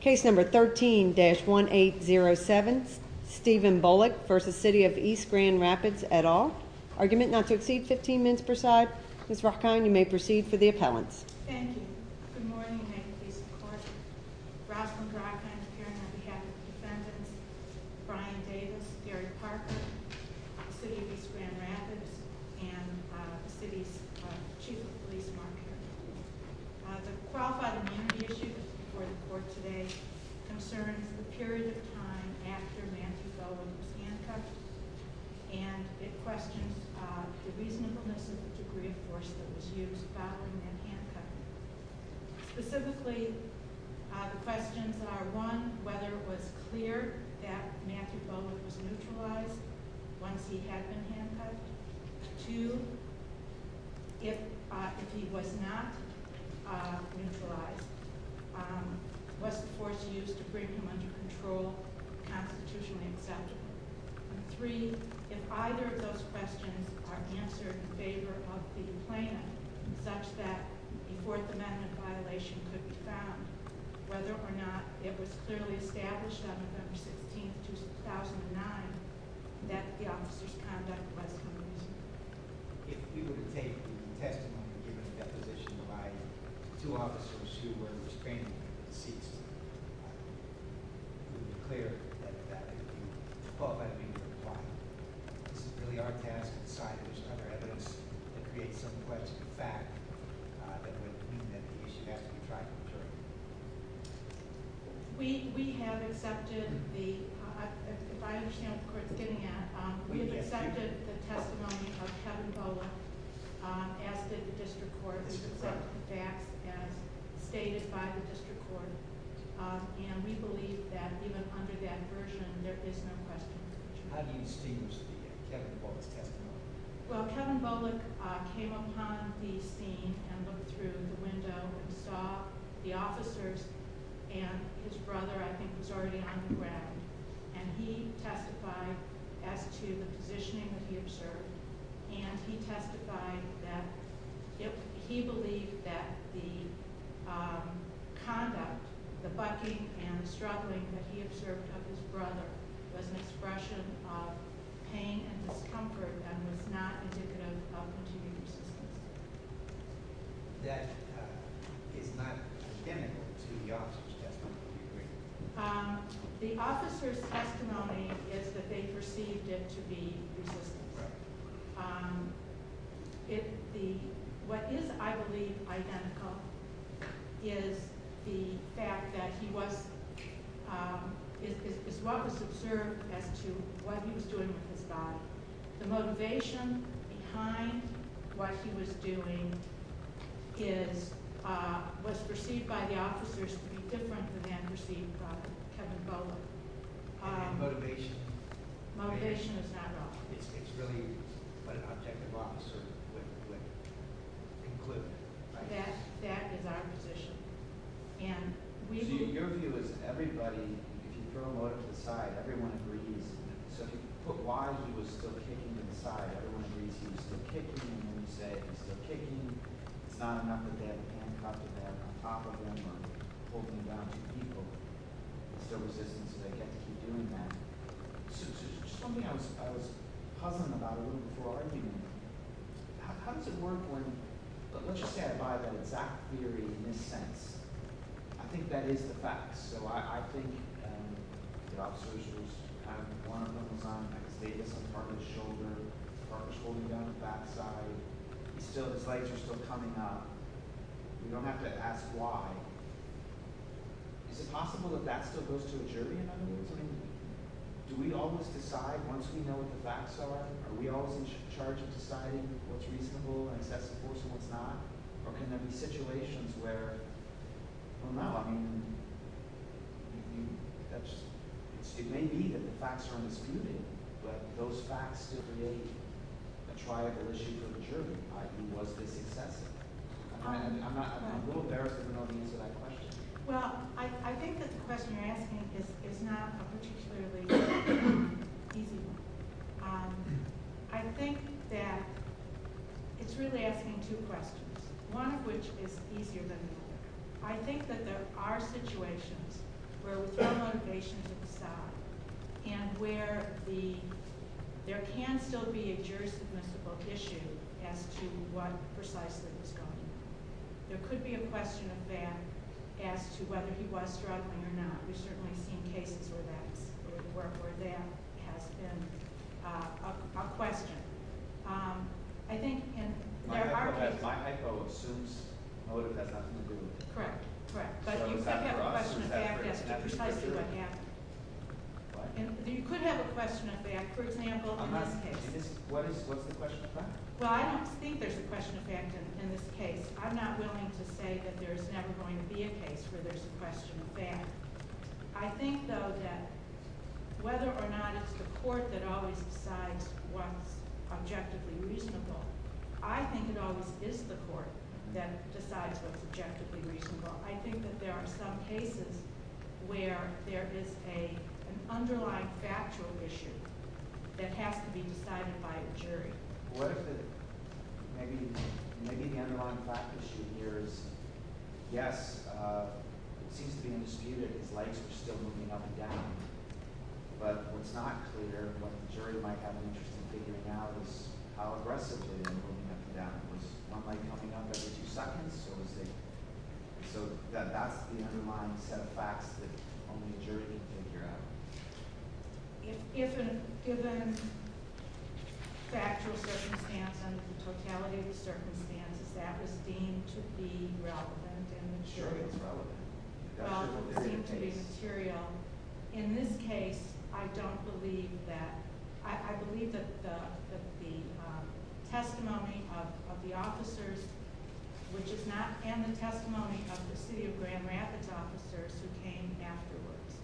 Case No. 13-1807, Stephen Bullock v. City of East Grand Rapids, et al. Argument not to exceed 15 minutes per side. Ms. Rakhine, you may proceed for the appellants. Thank you. Good morning, and may the peace and court be with you. Rosalind Rakhine is appearing on behalf of the defendants, Brian Davis, Gary Parker, the City of East Grand Rapids, and the City's Chief of Police, Mark Carroll. The qualified immunity issue before the court today concerns the period of time after Matthew Bowman was handcuffed, and it questions the reasonableness of the degree of force that was used, bottling, and handcuffing. Specifically, the questions are, one, whether it was clear that Matthew Bowman was neutralized once he had been handcuffed. Two, if he was not neutralized, was the force used to bring him under control constitutionally acceptable? Three, if either of those questions are answered in favor of the plaintiff, such that a Fourth Amendment violation could be found, whether or not it was clearly established on November 16, 2009, that the officer's conduct was neutral. If we were to take the testimony given in the deposition by two officers who were restraining the deceased, it would be clear that that would be followed by the meeting of the plaintiff. This is really our task to decide if there's other evidence that creates some question of fact that would mean that the issue has to be tried from the jury. We have accepted the, if I understand what the court's getting at, we have accepted the testimony of Kevin Bowler, asked that the district court accept the facts as stated by the district court, and we believe that even under that version, there is no question. How do you extinguish Kevin Bowler's testimony? Well, Kevin Bowler came upon the scene and looked through the window and saw the officers and his brother, I think, was already on the ground, and he testified as to the positioning that he observed, and he testified that he believed that the conduct, the bucking and struggling that he observed of his brother was an expression of pain and discomfort and was not indicative of continued resistance. That is not identical to the officer's testimony, do you agree? The officer's testimony is that they perceived it to be resistance. What is, I believe, identical is the fact that he was as well as observed as to what he was doing with his body. The motivation behind what he was doing was perceived by the officers to be different than perceived by Kevin Bowler. Motivation. Motivation is not wrong. It's really what an objective officer would conclude. That is our position. So your view is everybody, if you throw him over to the side, everyone agrees. So you put why he was still kicking to the side, everyone agrees he was still kicking, and then you say he's still kicking, it's not enough that they have a handcuff to have on top of him or holding him down to people. It's their resistance, so they get to keep doing that. So just one thing I was puzzled about a little before our argument. How does it work when – let's just say I buy that exact theory in this sense. I think that is the fact. So I think the officers, one of them was on, I can state this, on part of his shoulder, part was holding down the back side. He's still – his legs are still coming up. We don't have to ask why. Is it possible that that still goes to a jury in other words? I mean do we always decide once we know what the facts are? Are we always in charge of deciding what's reasonable and excessive force and what's not? Or can there be situations where, well, no, I mean that's – it may be that the facts are undisputed, but those facts still create a triable issue for the jury, i.e., was this excessive? I'm a little embarrassed I don't know the answer to that question. Well, I think that the question you're asking is not a particularly easy one. I think that it's really asking two questions, one of which is easier than the other. I think that there are situations where we throw motivation to the side and where the – there can still be a jury submissible issue as to what precisely was going on. There could be a question of that as to whether he was struggling or not. We've certainly seen cases where that's – where that has been a question. I think in their argument – My echo assumes motive has nothing to do with it. Correct, correct. But you could have a question of fact as to precisely what happened. You could have a question of fact, for example, in this case. What is – what's the question of fact? Well, I don't think there's a question of fact in this case. I'm not willing to say that there's never going to be a case where there's a question of fact. I think, though, that whether or not it's the court that always decides what's objectively reasonable, I think it always is the court that decides what's objectively reasonable. I think that there are some cases where there is an underlying factual issue that has to be decided by a jury. What if the – maybe the underlying fact issue here is, yes, it seems to be undisputed. His legs were still moving up and down. But what's not clear, what the jury might have an interest in figuring out is how aggressively they were moving up and down. Was one leg coming up every two seconds, or was they – so that's the underlying set of facts that only a jury can figure out. If a given factual circumstance and the totality of the circumstances, that was deemed to be relevant and material. Sure, it's relevant. Seemed to be material. In this case, I don't believe that – I believe that the testimony of the officers, which is not – and the testimony of the City of Grand Rapids officers who came afterwards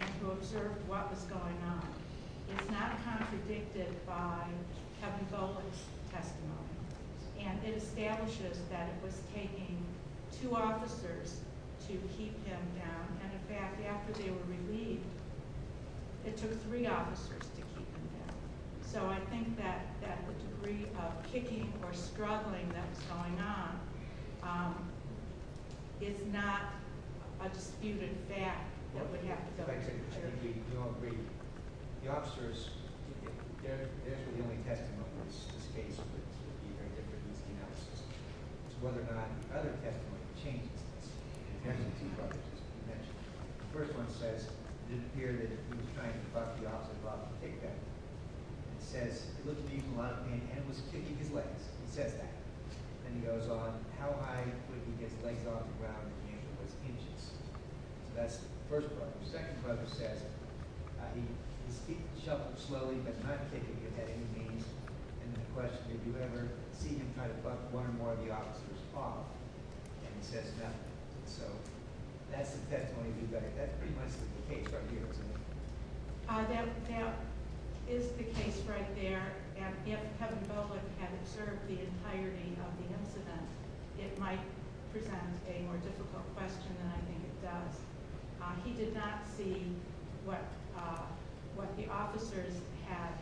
and who observed what was going on, is not contradicted by Kevin Goldman's testimony. And it establishes that it was taking two officers to keep him down. And, in fact, after they were relieved, it took three officers to keep him down. So I think that the degree of kicking or struggling that was going on is not a disputed fact that we have to fill out. If I could interject. We all agree. The officers – theirs was the only testimony in this case that would be very different from the analysis. It's whether or not other testimony changes this. The first one says it didn't appear that he was trying to buck the officers off to take them. It says it looked to be a lot of pain, and it was kicking his legs. He says that. And he goes on, how high would he get his legs off the ground if the injury was inches? So that's the first part. The second part says his feet shuffled slowly, but not kicking. It had any means. And the question, did you ever see him try to buck one or more of the officers off? And he says no. So that's the testimony. That pretty much is the case right here, isn't it? That is the case right there. And if Kevin Bellick had observed the entirety of the incident, it might present a more difficult question than I think it does. He did not see what the officers had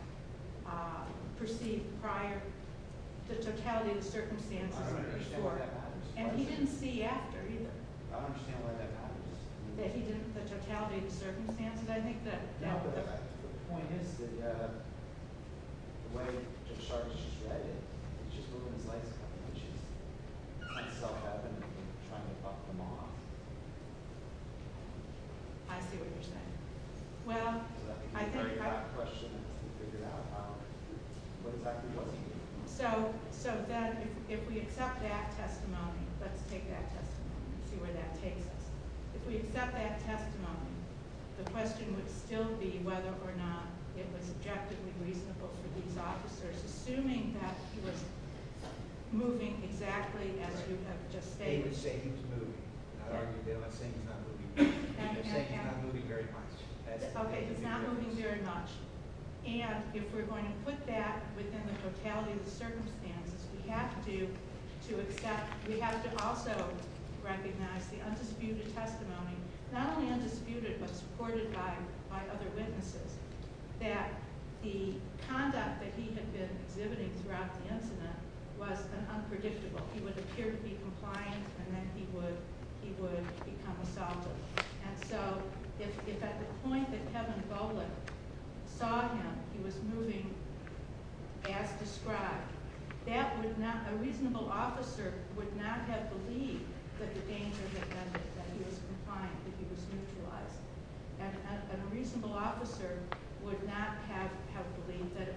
perceived prior. The totality of the circumstances. And he didn't see after either. I don't understand why that matters. The totality of the circumstances, I think that matters. No, but the point is that the way it just started, it just moved his legs a couple of inches. It's self-evident that he was trying to buck them off. I see what you're saying. Well, I think I – I think you've already got the question and figured out what exactly was he doing. So then if we accept that testimony, let's take that testimony and see where that takes us. If we accept that testimony, the question would still be whether or not it was objectively reasonable for these officers, assuming that he was moving exactly as you have just stated. They would say he was moving. They're not saying he's not moving. They're saying he's not moving very much. Okay, he's not moving very much. And if we're going to put that within the totality of the circumstances, we have to accept – we have to also recognize the undisputed testimony, not only undisputed but supported by other witnesses, that the conduct that he had been exhibiting throughout the incident was unpredictable. He would appear to be compliant, and then he would become assaulted. And so if at the point that Kevin Golan saw him, he was moving as described, that would not – a reasonable officer would not have believed that the danger had ended, that he was compliant, that he was neutralized. And a reasonable officer would not have believed that it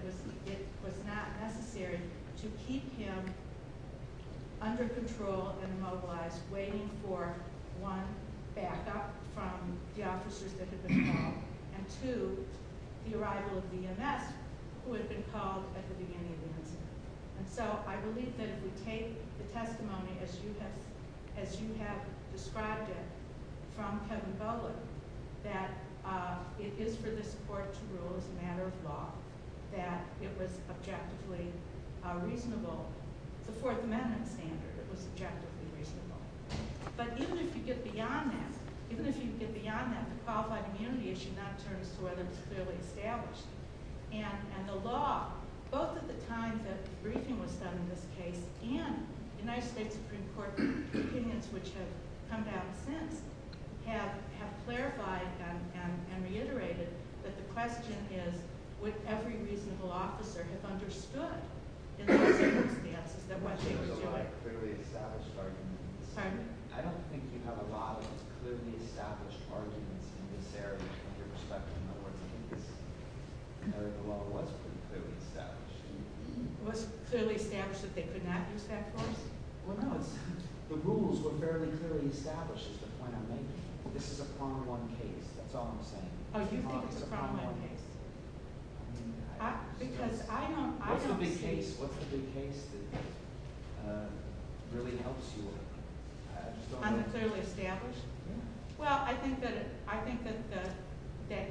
was not necessary to keep him under control and immobilized, waiting for, one, backup from the officers that had been called, and two, the arrival of the EMS, who had been called at the beginning of the incident. And so I believe that if we take the testimony as you have described it from Kevin Golan, that it is for this Court to rule as a matter of law that it was objectively reasonable. It's a Fourth Amendment standard. It was objectively reasonable. But even if you get beyond that, even if you get beyond that, the qualified immunity issue should not turn as to whether it was clearly established. And the law, both at the time that the briefing was done in this case and the United States Supreme Court opinions which have come down since, have clarified and reiterated that the question is, would every reasonable officer have understood in those circumstances that what they were doing – Pardon? I don't think you have a lot of clearly established arguments in this area from your perspective. In other words, I think this area of the law was pretty clearly established. It was clearly established that they could not use that force? Well, no. The rules were fairly clearly established is the point I'm making. This is a problem on case. That's all I'm saying. Oh, you think it's a problem on case? Because I don't – What's the big case? What's the big case that really helps you? On the clearly established? Yeah. Well, I think that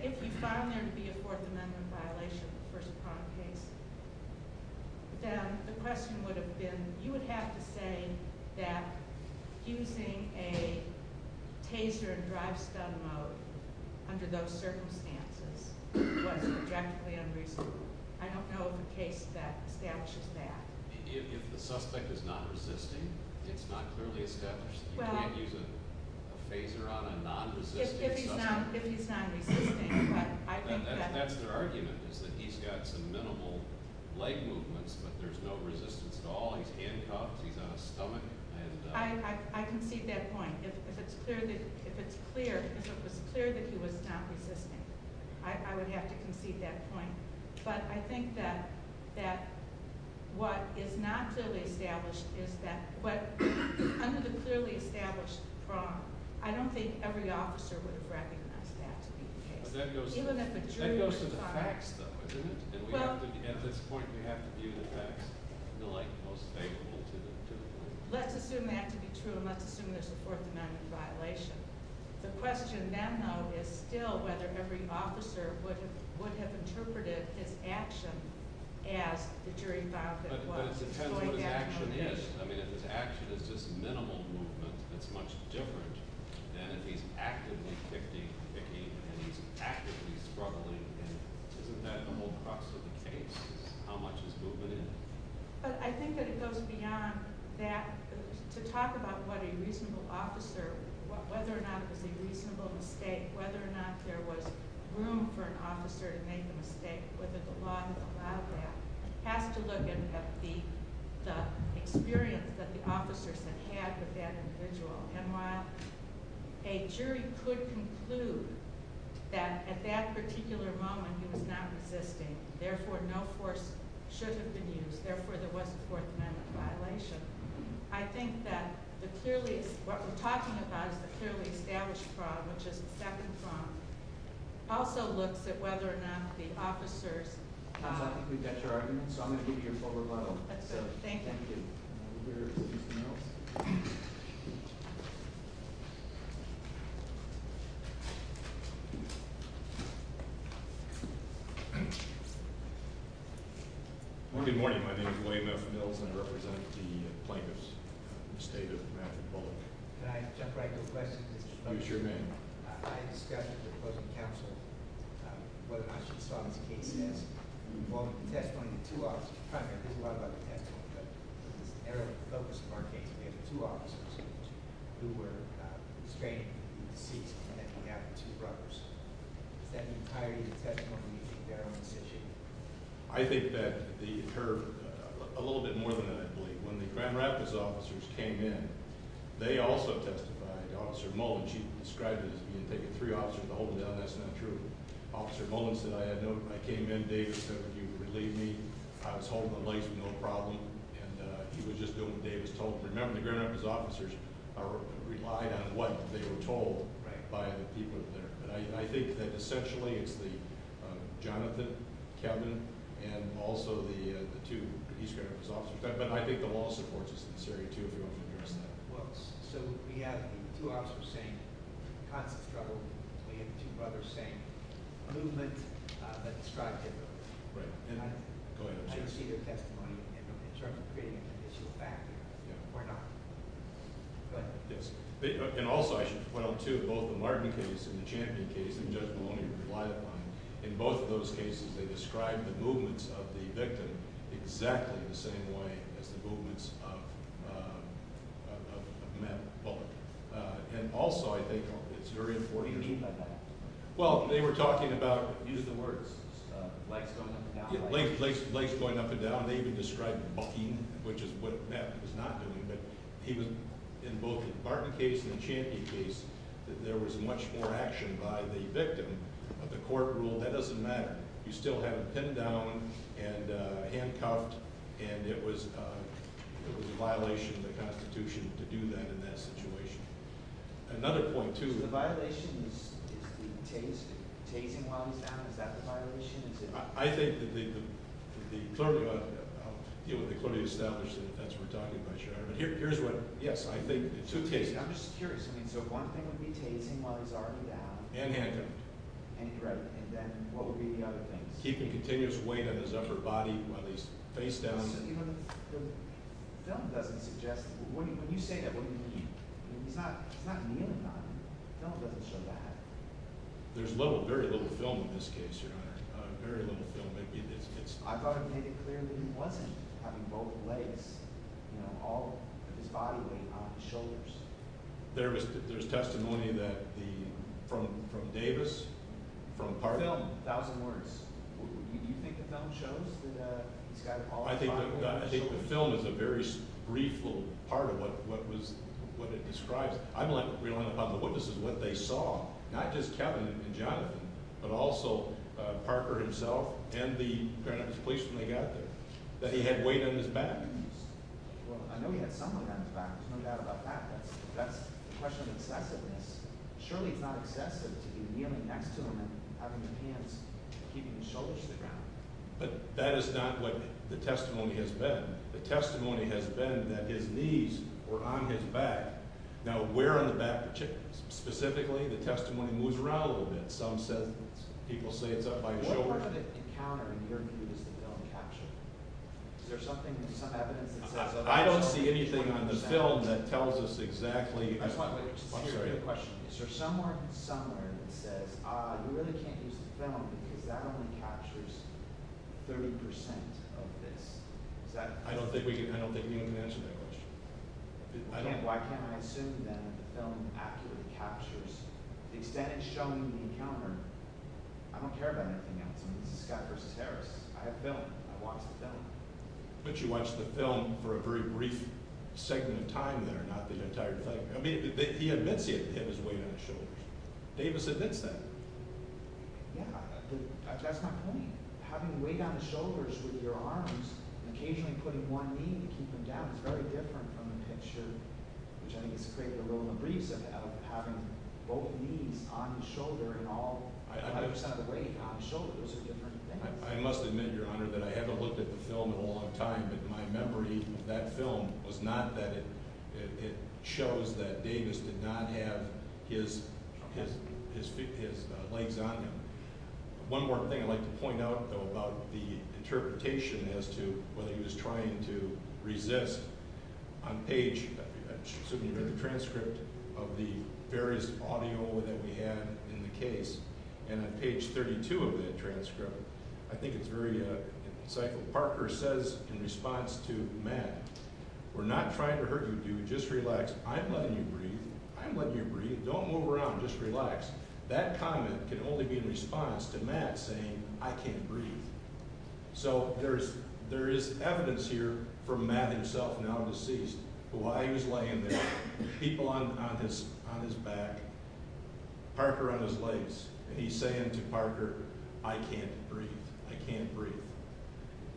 if you found there to be a Fourth Amendment violation of the first prompt case, then the question would have been, you would have to say that using a taser in drive-stun mode under those circumstances was objectively unreasonable. I don't know of a case that establishes that. If the suspect is not resisting, it's not clearly established. You can't use a taser on a non-resisting suspect. If he's not resisting, but I think that – That's their argument, is that he's got some minimal leg movements, but there's no resistance at all. He's handcuffed. He's on a stomach. I concede that point. If it's clear that he was not resisting, I would have to concede that point. But I think that what is not clearly established is that – what under the clearly established prompt, I don't think every officer would have recognized that to be the case. That goes to the facts, though, isn't it? At this point, we have to view the facts in the light most favorable to the police. Let's assume that to be true, and let's assume there's a Fourth Amendment violation. The question then, though, is still whether every officer would have interpreted his action as the jury found it was. But it depends what his action is. I mean, if his action is just minimal movement, it's much different than if he's actively picking and he's actively struggling. Isn't that the whole crux of the case is how much is movement in? But I think that it goes beyond that. To talk about what a reasonable officer – whether or not it was a reasonable mistake, whether or not there was room for an officer to make a mistake, whether the law had allowed that, has to look at the experience that the officers had with that individual. And while a jury could conclude that at that particular moment he was not resisting, therefore no force should have been used, therefore there was a Fourth Amendment violation, I think that what we're talking about is the clearly established fraud, which is the second fraud. It also looks at whether or not the officers – I think we've got your argument, so I'm going to give you your full rebuttal. That's good. Thank you. Anything else? Good morning. My name is William F. Mills, and I represent the plaintiffs in the State of Massachusetts. Can I jump right to a question? Sure, ma'am. I discussed with the opposing counsel whether or not she saw this case as involving the testimony of two officers. Mr. Prime Minister, this is a lot about the testimony, but it's narrowly focused in our case. We have two officers who were restrained in the seat, and then we have the two brothers. Does that mean higher unit testimony or do you think they're on the same sheet? I think that the – a little bit more than that, I believe. When the Grand Rapids officers came in, they also testified. Officer Mullen, she described it as being taking three officers to hold them down. That's not true. Officer Mullen said, I had no – I came in, David said, would you relieve me? I was holding the legs with no problem, and he was just doing what David was telling him. Remember, the Grand Rapids officers relied on what they were told by the people there. I think that essentially it's the – Jonathan, Kevin, and also the two East Grand Rapids officers. But I think the law supports this in this area, too, if you want to address that. Well, so we have the two officers saying constant struggle. We have the two brothers saying movement, but destructive. Go ahead. I can see their testimony in terms of creating an additional factor or not. Go ahead. Yes, and also I should point out, too, both the Martin case and the Champion case, and Judge Maloney replied to mine, in both of those cases they described the movements of the victim exactly the same way as the movements of Matt Bullock. And also I think it's very important. What do you mean by that? Well, they were talking about – Use the words, legs going up and down. Legs going up and down. They even described bucking, which is what Matt was not doing. But he was, in both the Martin case and the Champion case, that there was much more action by the victim of the court rule. That doesn't matter. You still had him pinned down and handcuffed, and it was a violation of the Constitution to do that in that situation. Another point, too – So the violation is the tase, the tasing while he's down? Is that the violation? I think the – I'll deal with the clearly established offense we're talking about here. But here's what – yes, I think the two tases. I'm just curious. I mean, so one thing would be tasing while he's already down. And handcuffed. And then what would be the other things? Keeping continuous weight on his upper body while he's face down. The film doesn't suggest – when you say that, what do you mean? I mean, it's not – it's not in the end of time. The film doesn't show that. There's very little film in this case, Your Honor. Very little film. Maybe it's – I thought it made it clear that he wasn't having both legs, you know, all of his body weight on his shoulders. There's testimony that the – from Davis, from the party. The film, a thousand words. Do you think the film shows that he's got all his body weight on his shoulders? I think the film is a very brief little part of what it describes. I'm relying upon the witnesses, what they saw, not just Kevin and Jonathan, but also Parker himself and the Grand Rapids Police when they got there, that he had weight on his back. Well, I know he had some weight on his back. There's no doubt about that. That's the question of excessiveness. Surely it's not excessive to be kneeling next to him and having your hands keeping your shoulders to the ground. But that is not what the testimony has been. The testimony has been that his knees were on his back. Now, where on the back, specifically, the testimony moves around a little bit. Some say it's – people say it's up by his shoulders. What part of the encounter in your view is the film capturing? Is there something, some evidence that says that? I don't see anything on the film that tells us exactly. I'm sorry. Is there somewhere, somewhere that says, ah, you really can't use the film because that only captures 30% of this? I don't think we can answer that question. Why can't I assume that the film accurately captures the extent it's showing the encounter? I don't care about anything else. I mean, this is Scott versus Harris. I have the film. I watched the film. But you watched the film for a very brief segment of time there, not the entire thing. I mean, he admits he had his weight on his shoulders. Davis admits that. Yeah, that's my point. Having weight on the shoulders with your arms and occasionally putting one knee to keep them down is very different from the picture, which I think has created a little of a breeze, of having both knees on the shoulder and all 5% of the weight on the shoulder. Those are different things. I must admit, Your Honor, that I haven't looked at the film in a long time, but my memory of that film was not that it shows that Davis did not have his legs on him. One more thing I'd like to point out, though, about the interpretation as to whether he was trying to resist. On page 32 of the transcript of the various audio that we had in the case, I think it's very insightful. Parker says in response to Matt, We're not trying to hurt you, dude. Just relax. I'm letting you breathe. I'm letting you breathe. Don't move around. Just relax. That comment can only be in response to Matt saying, I can't breathe. So there is evidence here from Matt himself, now deceased, why he was laying there, people on his back, Parker on his legs, and he's saying to Parker, I can't breathe. I can't breathe.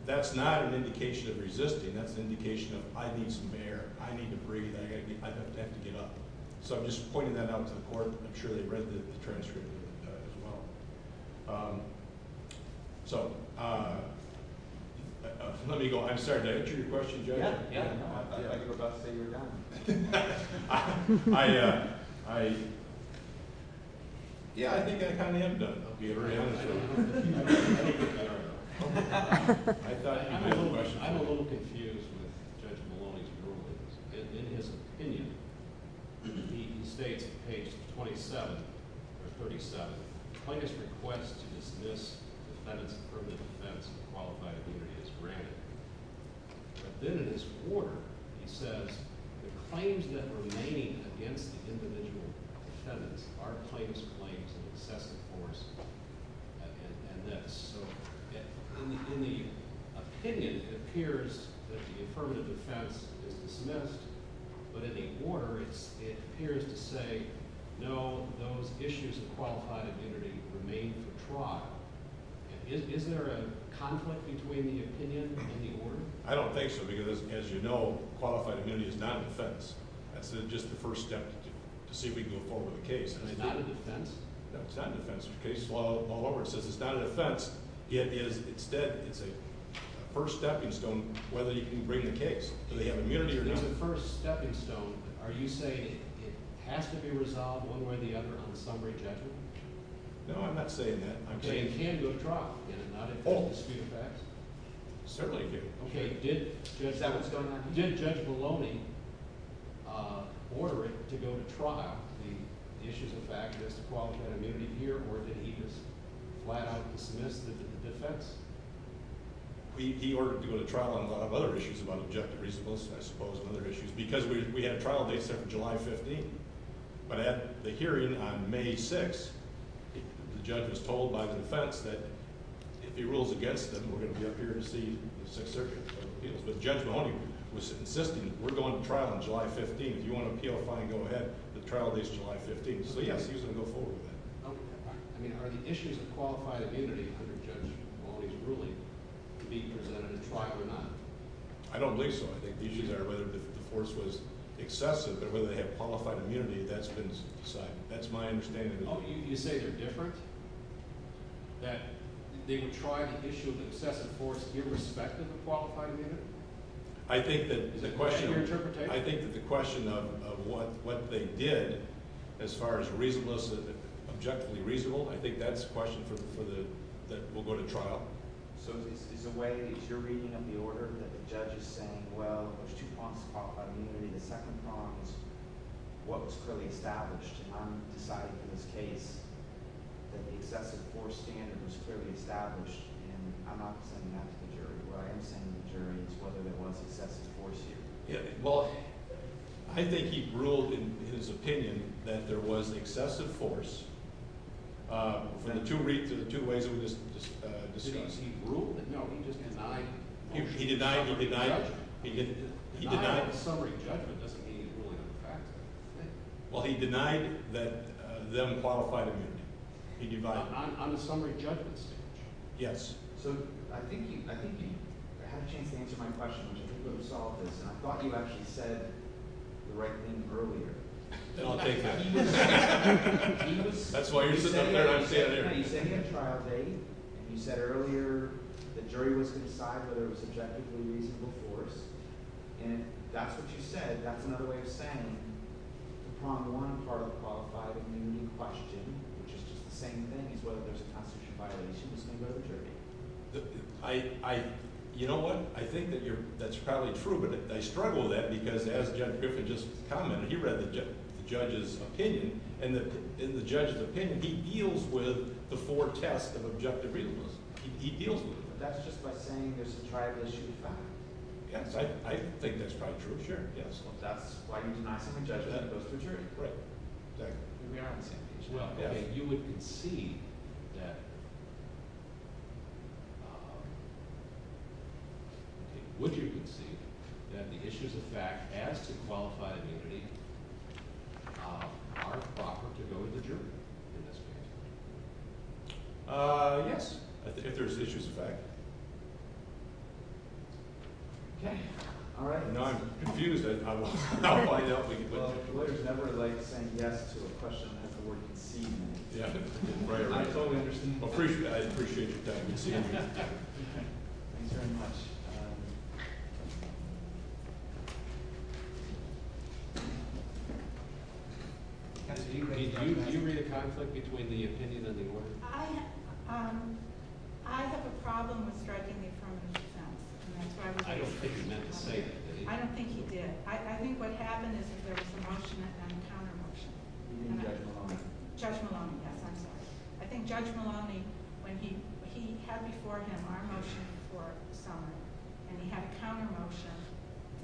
That's not an indication of resisting. That's an indication of I need some air. I need to breathe. I have to get up. So I'm just pointing that out to the court. I'm sure they read the transcript as well. So let me go. I'm sorry. Did I answer your question, Judge? Yeah. I thought you were about to say you were done. I think I kind of am done. I'm a little confused with Judge Maloney's ruling. In his opinion, he states on page 27 or 37, plaintiff's request to dismiss defendants of permanent defense and qualified immunity is granted. But then in his order, he says, the claims that remain against the individual defendants are plaintiff's claims of excessive force and that's so. In the opinion, it appears that the affirmative defense is dismissed. But in the order, it appears to say, no, those issues of qualified immunity remain for trial. Is there a conflict between the opinion and the order? I don't think so because, as you know, qualified immunity is not a defense. That's just the first step to see if we can go forward with the case. Is it not a defense? No, it's not a defense. It says it's not a defense. It's a first stepping stone whether you can bring the case. Do they have immunity or not? It's a first stepping stone. Are you saying it has to be resolved one way or the other on the summary judgment? No, I'm not saying that. It can go to trial, can it not? Oh, certainly it can. Did Judge Maloney order it to go to trial, the issues of fact as to qualified immunity here, or did he just flat out dismiss the defense? He ordered it to go to trial on a lot of other issues, about objective reasonableness, I suppose, and other issues, because we had a trial date set for July 15th. But at the hearing on May 6th, the judge was told by the defense that if he rules against them, we're going to be up here to see the Sixth Circuit for appeals. But Judge Maloney was insisting, we're going to trial on July 15th. You want to appeal, fine, go ahead. The trial date is July 15th. So, yes, he was going to go forward with that. Are the issues of qualified immunity under Judge Maloney's ruling to be presented at trial or not? I don't believe so. I think the issues are whether the force was excessive or whether they had qualified immunity. That's been decided. That's my understanding. Oh, you say they're different, that they were trying to issue the excessive force irrespective of qualified immunity? Is that your interpretation? I think that the question of what they did, as far as reasonableness, objectively reasonable, I think that's a question that will go to trial. So is your reading of the order that the judge is saying, well, there's two prongs to qualified immunity, the second prong is what was clearly established. I'm deciding in this case that the excessive force standard was clearly established, and I'm not presenting that to the jury. What I am saying to the jury is whether there was excessive force here. Well, I think he ruled, in his opinion, that there was excessive force from the two ways that we just discussed. Did he rule? No, he just denied the motion. He denied it. Denying a summary judgment doesn't mean he's ruling on the fact of it. Well, he denied that them qualified immunity. On the summary judgment stage? Yes. So I think he had a chance to answer my question, which I think would have solved this, and I thought you actually said the right thing earlier. I'll take that. That's why you're sitting up there. No, you said he had trial date, and you said earlier the jury wasn't going to decide whether it was objectively reasonable force, and that's what you said. That's another way of saying the prong to one part of the qualified immunity question, which is just the same thing as whether there's a constitutional violation, is going to go to the jury. You know what? I think that's probably true, but I struggle with that because as Judge Griffin just commented, he read the judge's opinion, and in the judge's opinion he deals with the four tests of objective reasonableness. He deals with it. That's just by saying there's a tribal issue to find. Yes, I think that's probably true. Sure. That's why you're denying summary judgment goes to the jury. Right. Exactly. We are on the same page. Well, you would concede that the issues of fact as to qualified immunity are proper to go to the jury in this case. Yes, if there's issues of fact. Okay. All right. Now I'm confused. I'll find out if we can put it together. The lawyer's never liked saying yes to a question that the lawyer conceded. I totally understand. I appreciate your time. Thanks very much. Did you read a conflict between the opinion and the order? I have a problem with striking the affirmative defense. I don't think he meant to say that. I don't think he did. I think what happened is there was a motion and a counter motion. You mean Judge Maloney? Judge Maloney, yes. I'm sorry. I think Judge Maloney, when he had before him our motion for summary, and he had a counter motion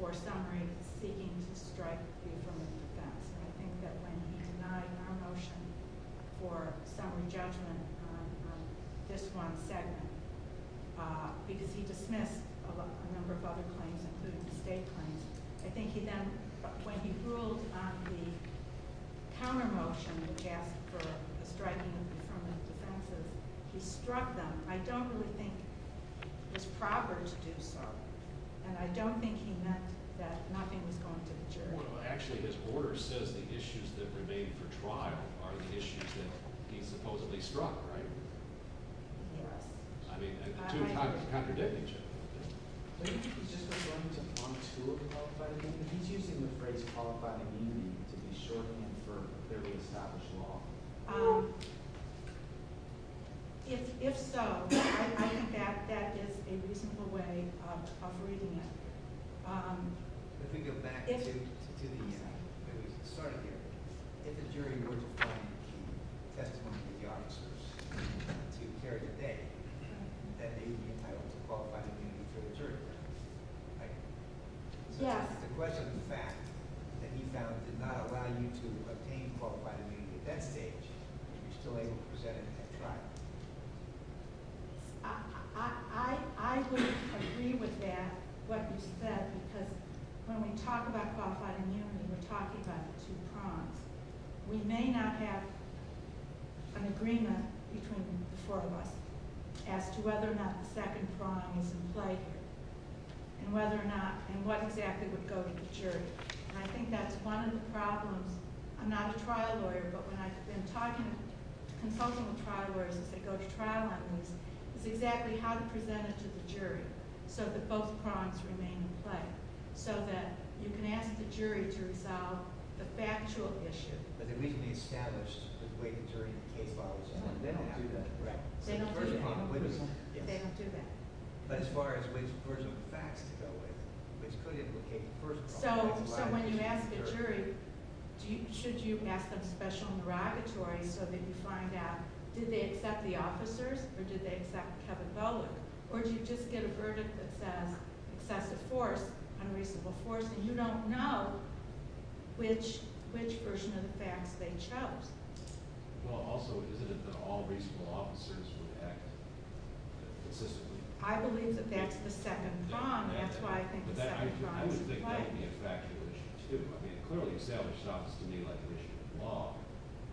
for summary seeking to strike the affirmative defense. I think that when he denied our motion for summary judgment on this one segment, because he dismissed a number of other claims, including the state claims, I think he then, when he ruled on the counter motion, which asked for a striking of the affirmative defense, he struck them. I don't really think it was proper to do so, and I don't think he meant that nothing was going to the jury. Well, actually his order says the issues that remain for trial are the issues that he supposedly struck, right? Yes. I mean the two types of contradicting each other. He's just referring to on the school of the qualified immunity. He's using the phrase qualified immunity to be shorthand for the re-established law. If so, I think that is a reasonable way of reading it. If we go back to the start of the hearing, if the jury were to find a key testimony for the officers to carry today, that they would be entitled to qualified immunity for the jury trial, right? Yes. The question is the fact that he found did not allow you to obtain qualified immunity at that stage, but you're still able to present it at trial. I would agree with that, what you said, because when we talk about qualified immunity, we're talking about the two prongs. We may not have an agreement between the four of us as to whether or not the second prong is in play and what exactly would go to the jury. I think that's one of the problems. I'm not a trial lawyer, but when I've been talking, consulting with trial lawyers as they go to trial on these, is exactly how to present it to the jury so that both prongs remain in play so that you can ask the jury to resolve the factual issue. But they need to be established the way the jury in the case follows on. They don't do that. They don't do that. As far as which version of the facts to go with, which could implicate the first prong. So when you ask a jury, should you ask them special derogatory so that you find out did they accept the officers or did they accept Kevin Bullock, or do you just get a verdict that says excessive force, unreasonable force, and you don't know which version of the facts they chose. Well, also, isn't it that all reasonable officers would act consistently? I believe that that's the second prong. That's why I think the second prong is in play. I would think that would be a factual issue, too. I mean, it clearly establishes an office to me like an issue of law,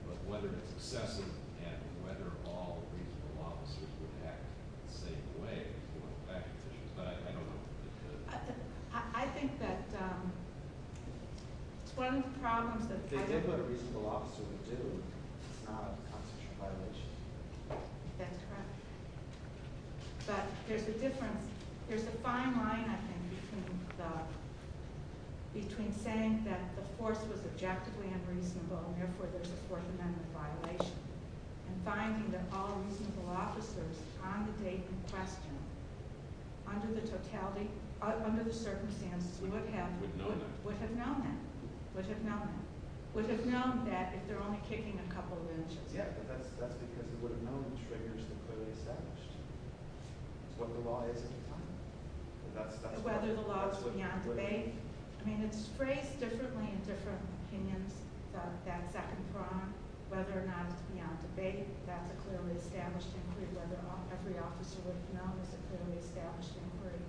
but whether it's excessive and whether all reasonable officers would act in the same way is more of a factual issue. But I don't know if it could. I think that it's one of the problems that I think… They did put a reasonable officer in June. It's not a constitutional violation. That's correct. But there's a difference. There's a fine line, I think, between saying that the force was objectively unreasonable and therefore there's a Fourth Amendment violation and finding that all reasonable officers on the date in question, under the totality, under the circumstances, would have known that. Would have known that. Would have known that if they're only kicking a couple of inches. Yeah, but that's because it would have known the triggers that clearly established what the law is at the time. Whether the law is beyond debate. I mean, it's phrased differently in different opinions. That second prong, whether or not it's beyond debate, that's a clearly established inquiry. Whether every officer would have known is a clearly established inquiry.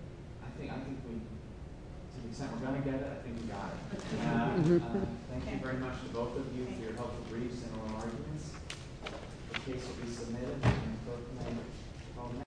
I think we've… To the extent we're going to get it, I think we've got it. Thank you very much to both of you for your helpful briefs and oral arguments. The case will be submitted in the Fourth Amendment.